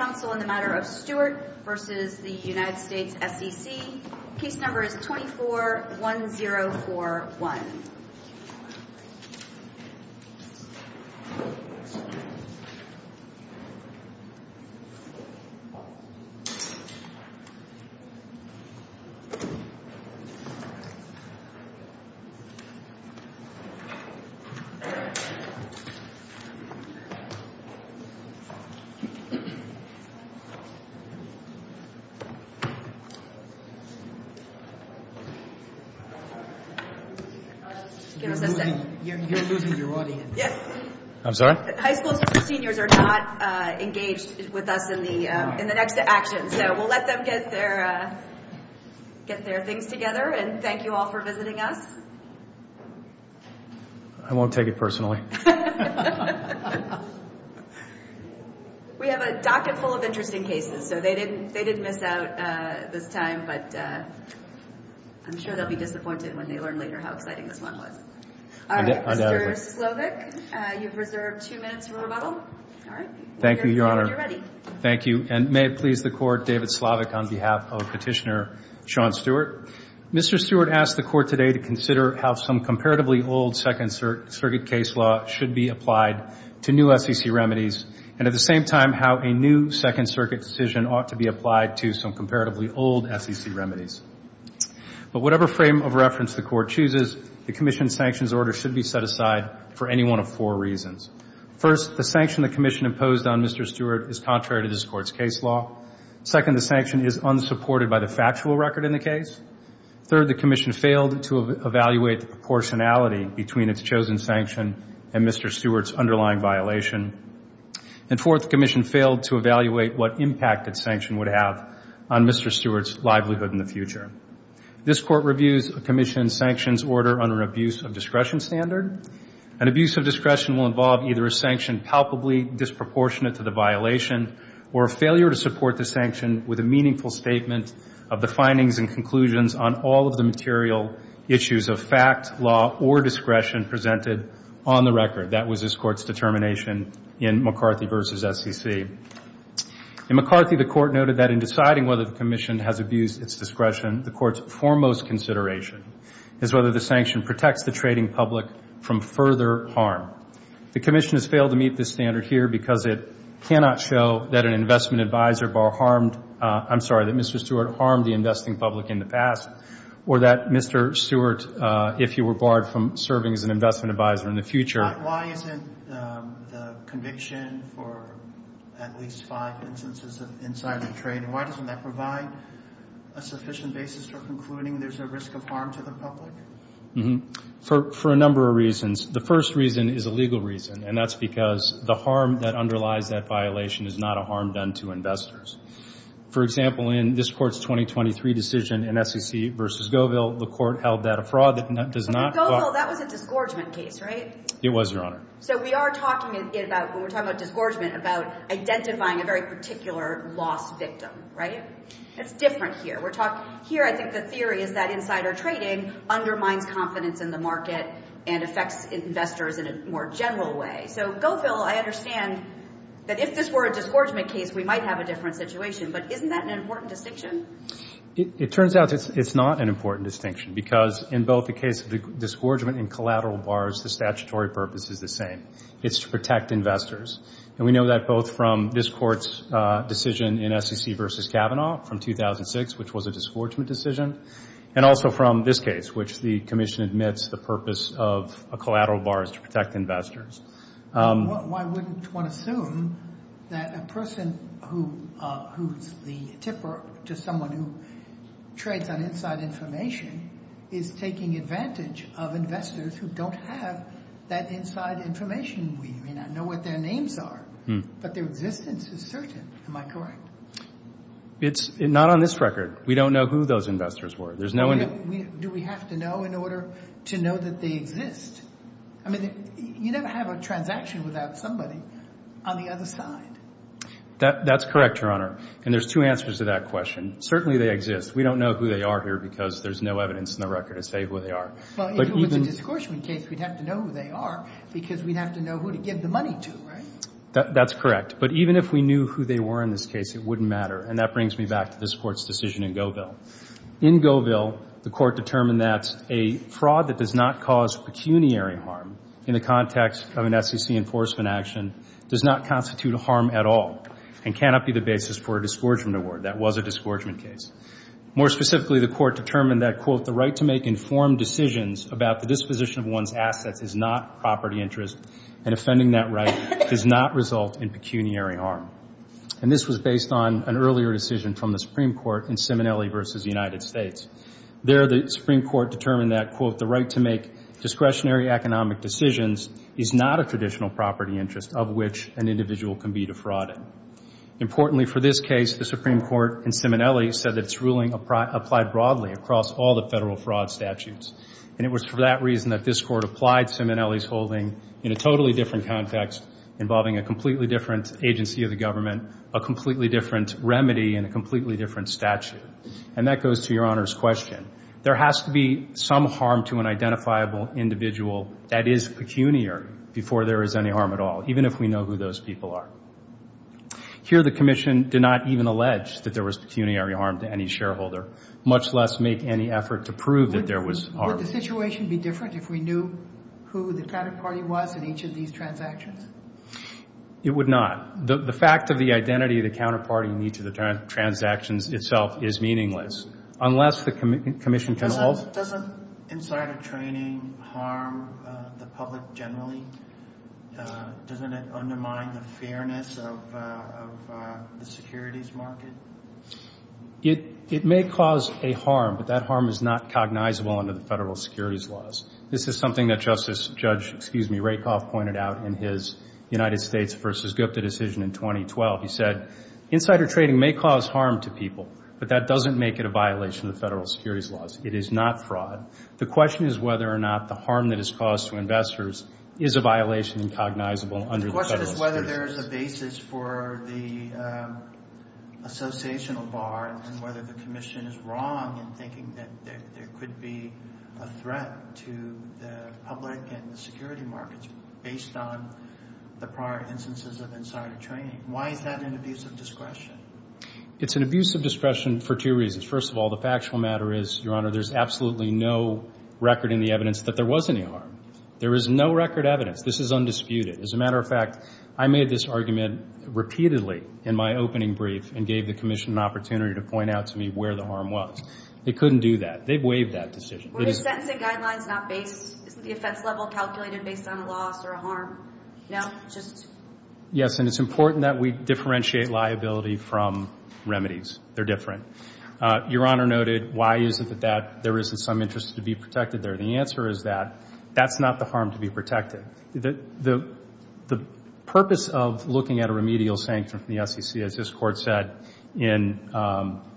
Council on the matter of Stewart v. United States SEC. Case number is 24-1041. I'm sorry? High schools for seniors are not engaged with us in the next action. So we'll let them get their things together. Thank you all for visiting us. I won't take it personally. We have a docket full of interesting cases, so they didn't miss out this time, but I'm sure they'll be disappointed when they learn later how exciting this one was. All right, Mr. Slovic, you've reserved two minutes for rebuttal. All right. Thank you, Your Honor. When you're ready. Thank you, and may it please the Court, David Slovic on behalf of Petitioner Sean Stewart. Mr. Stewart asked the Court today to consider how some comparatively old Second Circuit case law should be applied to new SEC remedies, and at the same time how a new Second Circuit decision ought to be applied to some comparatively old SEC remedies. But whatever frame of reference the Court chooses, the Commission's sanctions order should be set aside for any one of four reasons. First, the sanction the Commission imposed on Mr. Stewart is contrary to this Court's case law. Second, the sanction is unsupported by the factual record in the case. Third, the Commission failed to evaluate the proportionality between its chosen sanction and Mr. Stewart's underlying violation. And fourth, the Commission failed to evaluate what impact its sanction would have on Mr. Stewart's livelihood in the future. This Court reviews the Commission's sanctions order under an abuse of discretion standard. An abuse of discretion will involve either a sanction palpably disproportionate to the violation or a failure to support the sanction with a meaningful statement of the findings and conclusions on all of the material issues of fact, law, or discretion presented on the record. That was this Court's determination in McCarthy v. SEC. In McCarthy, the Court noted that in deciding whether the Commission has abused its discretion, the Court's foremost consideration is whether the sanction protects the trading public from further harm. The Commission has failed to meet this standard here because it cannot show that an investment advisor harmed, I'm sorry, that Mr. Stewart harmed the investing public in the past, or that Mr. Stewart, if he were barred from serving as an investment advisor in the future. Why isn't the conviction for at least five instances of insider trade, why doesn't that provide a sufficient basis for concluding there's a risk of harm to the public? For a number of reasons. The first reason is a legal reason, and that's because the harm that underlies that violation is not a harm done to investors. For example, in this Court's 2023 decision in SEC v. Govill, the Court held that a fraud that does not qualify. But Govill, that was a disgorgement case, right? It was, Your Honor. So we are talking about, when we're talking about disgorgement, about identifying a very particular loss victim, right? It's different here. We're talking, here I think the theory is that insider trading undermines confidence in the market and affects investors in a more general way. Okay, so Govill, I understand that if this were a disgorgement case, we might have a different situation. But isn't that an important distinction? It turns out it's not an important distinction, because in both the case of the disgorgement and collateral bars, the statutory purpose is the same. It's to protect investors. And we know that both from this Court's decision in SEC v. Kavanaugh from 2006, which was a disgorgement decision, and also from this case, which the Commission admits the purpose of a collateral bar is to protect investors. Why wouldn't one assume that a person who's the tipper to someone who trades on inside information is taking advantage of investors who don't have that inside information? I mean, I know what their names are, but their existence is certain. Am I correct? It's not on this record. We don't know who those investors were. Do we have to know in order to know that they exist? I mean, you never have a transaction without somebody on the other side. That's correct, Your Honor. And there's two answers to that question. Certainly they exist. We don't know who they are here because there's no evidence in the record to say who they are. Well, if it was a disgorgement case, we'd have to know who they are because we'd have to know who to give the money to, right? That's correct. But even if we knew who they were in this case, it wouldn't matter. And that brings me back to this Court's decision in Govill. In Govill, the Court determined that a fraud that does not cause pecuniary harm in the context of an SEC enforcement action does not constitute a harm at all and cannot be the basis for a disgorgement award. That was a disgorgement case. More specifically, the Court determined that, quote, the right to make informed decisions about the disposition of one's assets is not property interest and offending that right does not result in pecuniary harm. And this was based on an earlier decision from the Supreme Court in Simonelli v. United States. There, the Supreme Court determined that, quote, the right to make discretionary economic decisions is not a traditional property interest of which an individual can be defrauded. Importantly for this case, the Supreme Court in Simonelli said that its ruling applied broadly across all the federal fraud statutes. And it was for that reason that this Court applied Simonelli's holding in a totally different context involving a completely different agency of the government, a completely different remedy, and a completely different statute. And that goes to Your Honor's question. There has to be some harm to an identifiable individual that is pecuniary before there is any harm at all, even if we know who those people are. Here the Commission did not even allege that there was pecuniary harm to any shareholder, much less make any effort to prove that there was harm. Would the situation be different if we knew who the counterparty was in each of these transactions? It would not. The fact of the identity of the counterparty in each of the transactions itself is meaningless. Unless the Commission can all – Doesn't insider trading harm the public generally? Doesn't it undermine the fairness of the securities market? It may cause a harm, but that harm is not cognizable under the federal securities laws. This is something that Justice Judge – excuse me – Rakoff pointed out in his United States v. Gupta decision in 2012. He said insider trading may cause harm to people, but that doesn't make it a violation of the federal securities laws. It is not fraud. The question is whether or not the harm that is caused to investors is a violation and cognizable under the federal securities laws. The question is whether there is a basis for the associational bar and whether the Commission is wrong in thinking that there could be a threat to the public and the security markets based on the prior instances of insider trading. Why is that an abuse of discretion? It's an abuse of discretion for two reasons. First of all, the factual matter is, Your Honor, there's absolutely no record in the evidence that there was any harm. There is no record evidence. This is undisputed. As a matter of fact, I made this argument repeatedly in my opening brief and gave the Commission an opportunity to point out to me where the harm was. They couldn't do that. They waived that decision. Were the sentencing guidelines not based – isn't the offense level calculated based on a loss or a harm? No? Just – Yes, and it's important that we differentiate liability from remedies. They're different. Your Honor noted, why is it that there isn't some interest to be protected there? The answer is that that's not the harm to be protected. The purpose of looking at a remedial sanction from the SEC, as this Court said in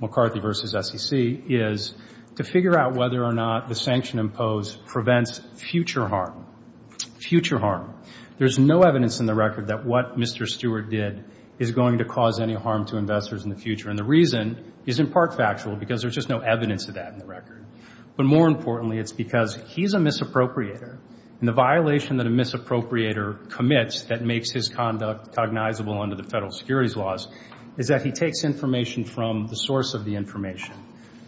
McCarthy v. SEC, is to figure out whether or not the sanction imposed prevents future harm. Future harm. There's no evidence in the record that what Mr. Stewart did is going to cause any harm to investors in the future. And the reason is in part factual because there's just no evidence of that in the record. But more importantly, it's because he's a misappropriator and the violation that a misappropriator commits that makes his conduct cognizable under the federal securities laws is that he takes information from the source of the information,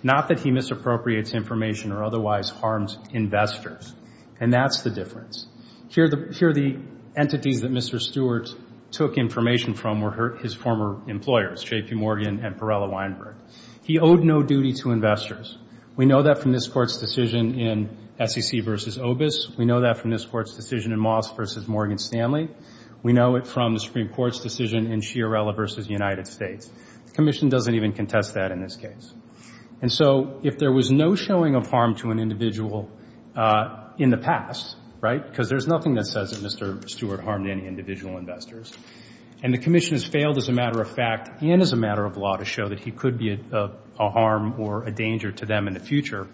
not that he misappropriates information or otherwise harms investors. And that's the difference. Here are the entities that Mr. Stewart took information from were his former employers, J.P. Morgan and Perella Weinberg. He owed no duty to investors. We know that from this Court's decision in SEC v. Obis. We know that from this Court's decision in Moss v. Morgan Stanley. We know it from the Supreme Court's decision in Sciarella v. United States. The Commission doesn't even contest that in this case. And so if there was no showing of harm to an individual in the past, right, because there's nothing that says that Mr. Stewart harmed any individual investors, and the Commission has failed as a matter of fact and as a matter of law to show that he could be a harm or a danger to them in the future,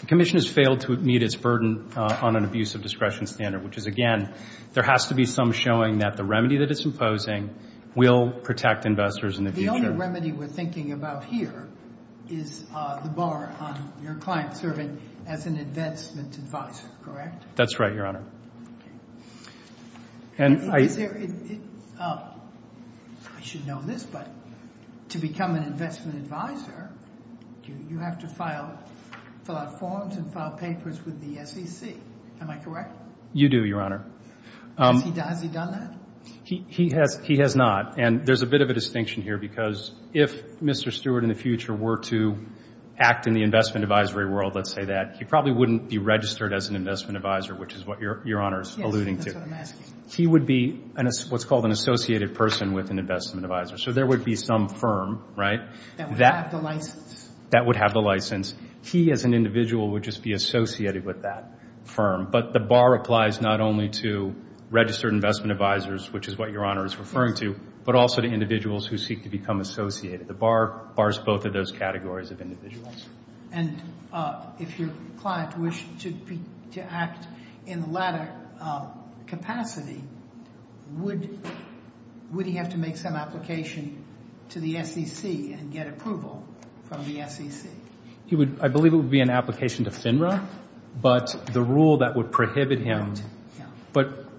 the Commission has failed to meet its burden on an abuse of discretion standard, which is, again, there has to be some showing that the remedy that it's imposing will protect investors in the future. The only remedy we're thinking about here is the bar on your client serving as an investment advisor, correct? That's right, Your Honor. I should know this, but to become an investment advisor, you have to fill out forms and file papers with the SEC. Am I correct? You do, Your Honor. Has he done that? He has not, and there's a bit of a distinction here because if Mr. Stewart in the future were to act in the investment advisory world, let's say that, he probably wouldn't be registered as an investment advisor, which is what Your Honor is alluding to. Yes, that's what I'm asking. He would be what's called an associated person with an investment advisor. So there would be some firm, right? That would have the license. That would have the license. He as an individual would just be associated with that firm, but the bar applies not only to registered investment advisors, which is what Your Honor is referring to, but also to individuals who seek to become associated. The bar bars both of those categories of individuals. And if your client wished to act in the latter capacity, would he have to make some application to the SEC and get approval from the SEC? I believe it would be an application to FINRA, but the rule that would prohibit him.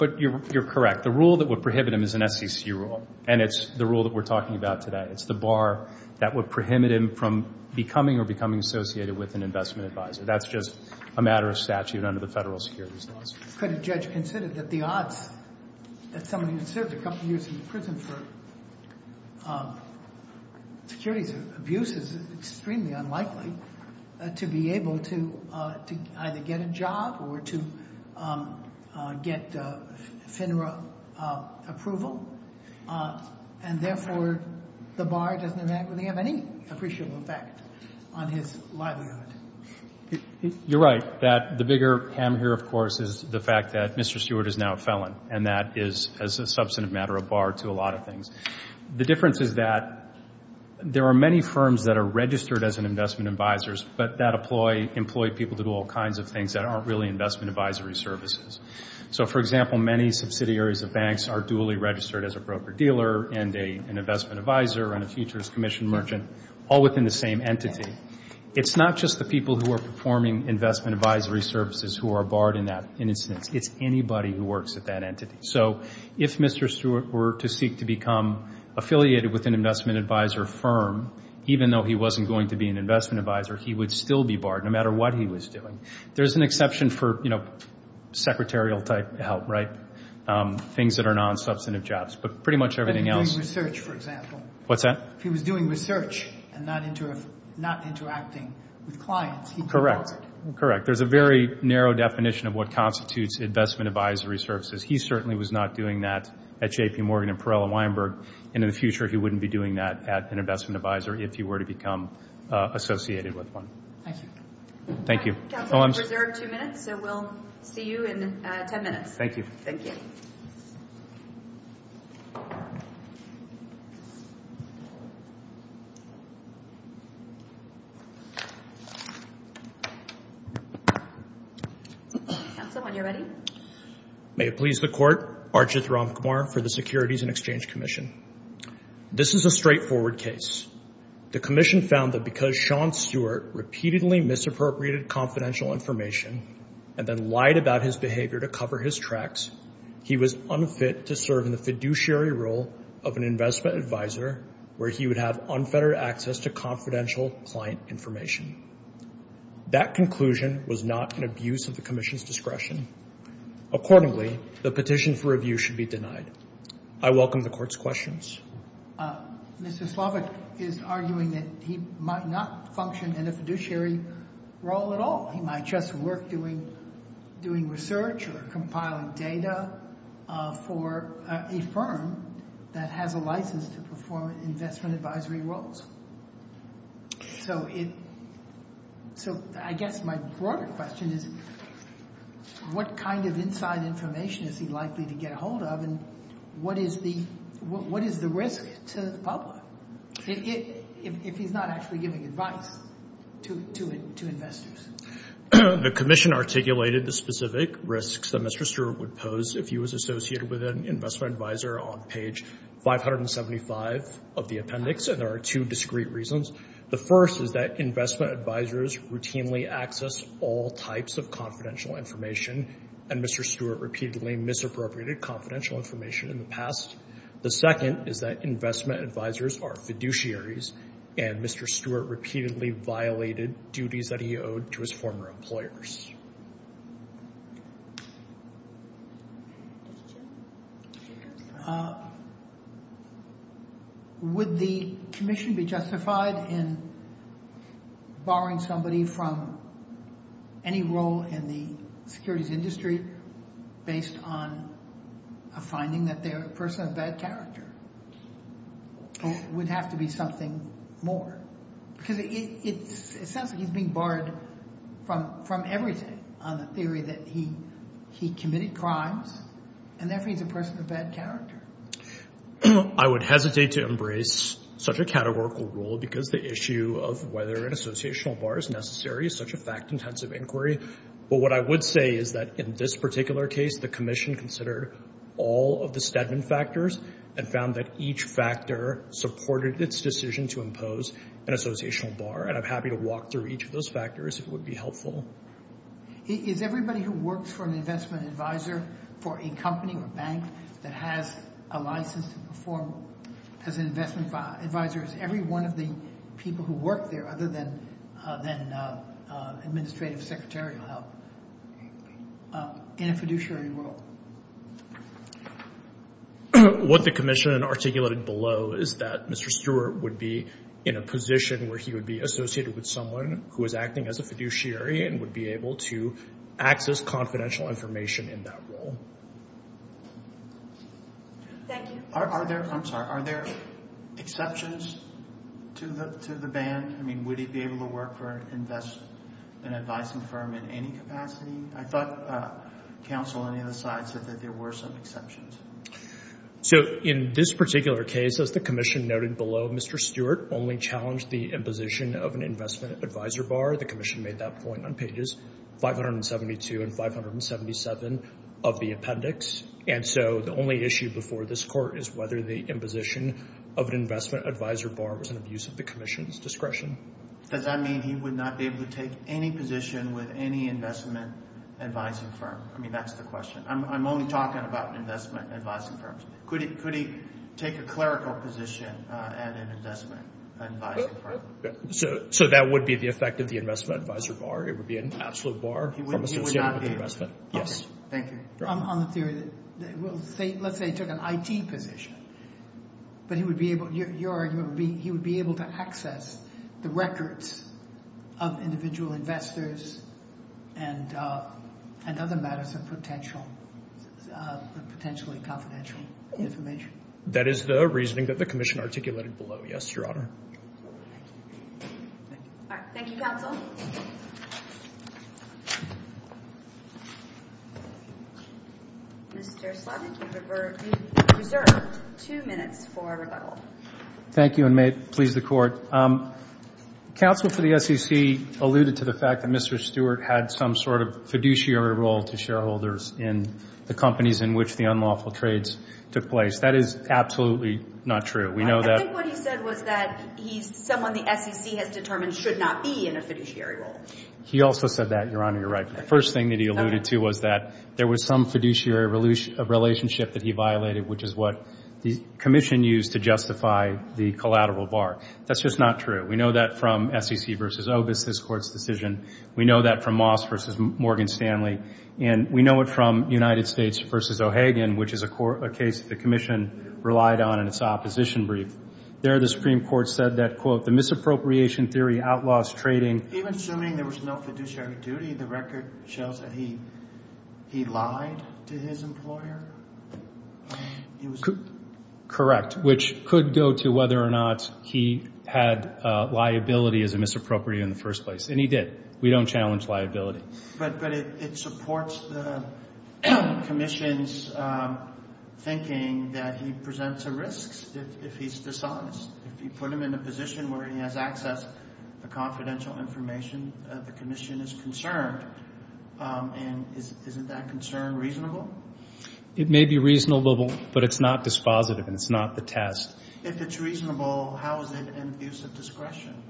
But you're correct. The rule that would prohibit him is an SEC rule, and it's the rule that we're talking about today. It's the bar that would prohibit him from becoming or becoming associated with an investment advisor. That's just a matter of statute under the federal securities laws. Could a judge consider that the odds that somebody who served a couple years in prison for securities abuse is extremely unlikely to be able to either get a job or to get FINRA approval, and therefore the bar doesn't have any appreciable effect on his livelihood? You're right. The bigger hammer here, of course, is the fact that Mr. Stewart is now a felon, and that is a substantive matter of bar to a lot of things. The difference is that there are many firms that are registered as investment advisors but that employ people to do all kinds of things that aren't really investment advisory services. So, for example, many subsidiaries of banks are duly registered as a broker-dealer and an investment advisor and a futures commission merchant, all within the same entity. It's not just the people who are performing investment advisory services who are barred in that instance. It's anybody who works at that entity. So if Mr. Stewart were to seek to become affiliated with an investment advisor firm, even though he wasn't going to be an investment advisor, he would still be barred, no matter what he was doing. There's an exception for, you know, secretarial-type help, right, things that are non-substantive jobs, but pretty much everything else. If he was doing research, for example. Correct. Correct. There's a very narrow definition of what constitutes investment advisory services. He certainly was not doing that at J.P. Morgan and Perella Weinberg, and in the future he wouldn't be doing that at an investment advisor if he were to become associated with one. Thank you. Thank you. Counsel, you're reserved two minutes, so we'll see you in ten minutes. Thank you. Thank you. Counsel, when you're ready. May it please the Court, Arjit Ramkumar for the Securities and Exchange Commission. This is a straightforward case. The commission found that because Sean Stewart repeatedly misappropriated confidential information and then lied about his behavior to cover his tracks, he was unfit to serve in the fiduciary role of an investment advisor where he would have unfettered access to confidential client information. That conclusion was not an abuse of the commission's discretion. Accordingly, the petition for review should be denied. I welcome the Court's questions. Mr. Slavik is arguing that he might not function in a fiduciary role at all. He might just work doing research or compiling data for a firm that has a license to perform investment advisory roles. So I guess my broader question is what kind of inside information is he likely to get a hold of and what is the risk to the public if he's not actually giving advice to investors? The commission articulated the specific risks that Mr. Stewart would pose if he was associated with an investment advisor on page 575 of the appendix, and there are two discrete reasons. The first is that investment advisors routinely access all types of confidential information, and Mr. Stewart repeatedly misappropriated confidential information in the past. The second is that investment advisors are fiduciaries, and Mr. Stewart repeatedly violated duties that he owed to his former employers. Would the commission be justified in barring somebody from any role in the securities industry based on a finding that they're a person of bad character? Or would it have to be something more? Because it sounds like he's being barred from everything on the theory that he committed crimes, and therefore he's a person of bad character. I would hesitate to embrace such a categorical rule because the issue of whether an associational bar is necessary is such a fact-intensive inquiry. But what I would say is that in this particular case, the commission considered all of the Stedman factors and found that each factor supported its decision to impose an associational bar, and I'm happy to walk through each of those factors if it would be helpful. Is everybody who works for an investment advisor for a company or bank that has a license to perform as an investment advisor, is every one of the people who work there other than administrative secretarial help in a fiduciary role? What the commission articulated below is that Mr. Stewart would be in a position where he would be associated with someone who is acting as a fiduciary and would be able to access confidential information in that role. Thank you. I'm sorry. Are there exceptions to the ban? I mean, would he be able to work for an advising firm in any capacity? I thought counsel on either side said that there were some exceptions. So in this particular case, as the commission noted below, Mr. Stewart only challenged the imposition of an investment advisor bar. The commission made that point on pages 572 and 577 of the appendix. And so the only issue before this court is whether the imposition of an investment advisor bar was an abuse of the commission's discretion. Does that mean he would not be able to take any position with any investment advising firm? I mean, that's the question. I'm only talking about investment advising firms. Could he take a clerical position at an investment advising firm? So that would be the effect of the investment advisor bar. It would be an absolute bar. He would not be able to. Yes. Thank you. On the theory that, well, let's say he took an IT position. But he would be able, your argument would be he would be able to access the records of individual investors and other matters of potential, potentially confidential information. That is the reasoning that the commission articulated below, yes, Your Honor. Thank you, counsel. Mr. Slavik, you reserve two minutes for rebuttal. Thank you, and may it please the Court. Counsel for the SEC alluded to the fact that Mr. Stewart had some sort of fiduciary role to shareholders in the companies in which the unlawful trades took place. That is absolutely not true. I think what he said was that he's someone the SEC has determined should not be in a fiduciary role. He also said that, Your Honor. You're right. The first thing that he alluded to was that there was some fiduciary relationship that he violated, which is what the commission used to justify the collateral bar. That's just not true. We know that from SEC v. Obis' court's decision. We know that from Moss v. Morgan Stanley. And we know it from United States v. O'Hagan, which is a case the commission relied on in its opposition brief. There the Supreme Court said that, quote, the misappropriation theory outlaws trading. Even assuming there was no fiduciary duty, the record shows that he lied to his employer? Correct, which could go to whether or not he had liability as a misappropriator in the first place. And he did. We don't challenge liability. But it supports the commission's thinking that he presents a risk if he's dishonest. If you put him in a position where he has access to confidential information, the commission is concerned. And isn't that concern reasonable? It may be reasonable, but it's not dispositive and it's not the test. If it's reasonable, how is it an abuse of discretion?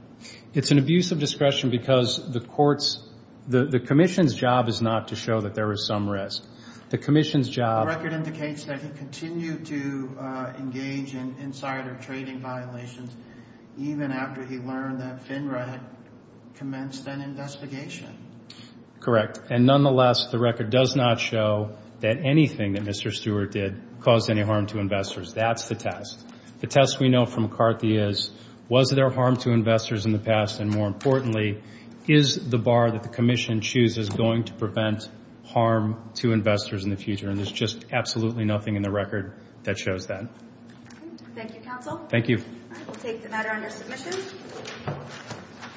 It's an abuse of discretion because the court's – the commission's job is not to show that there is some risk. The commission's job – The record indicates that he continued to engage in insider trading violations even after he learned that FINRA had commenced an investigation. Correct. And nonetheless, the record does not show that anything that Mr. Stewart did caused any harm to investors. That's the test. The test we know from McCarthy is, was there harm to investors in the past? And more importantly, is the bar that the commission chooses going to prevent harm to investors in the future? And there's just absolutely nothing in the record that shows that. Thank you, counsel. Thank you. I will take the matter under submission.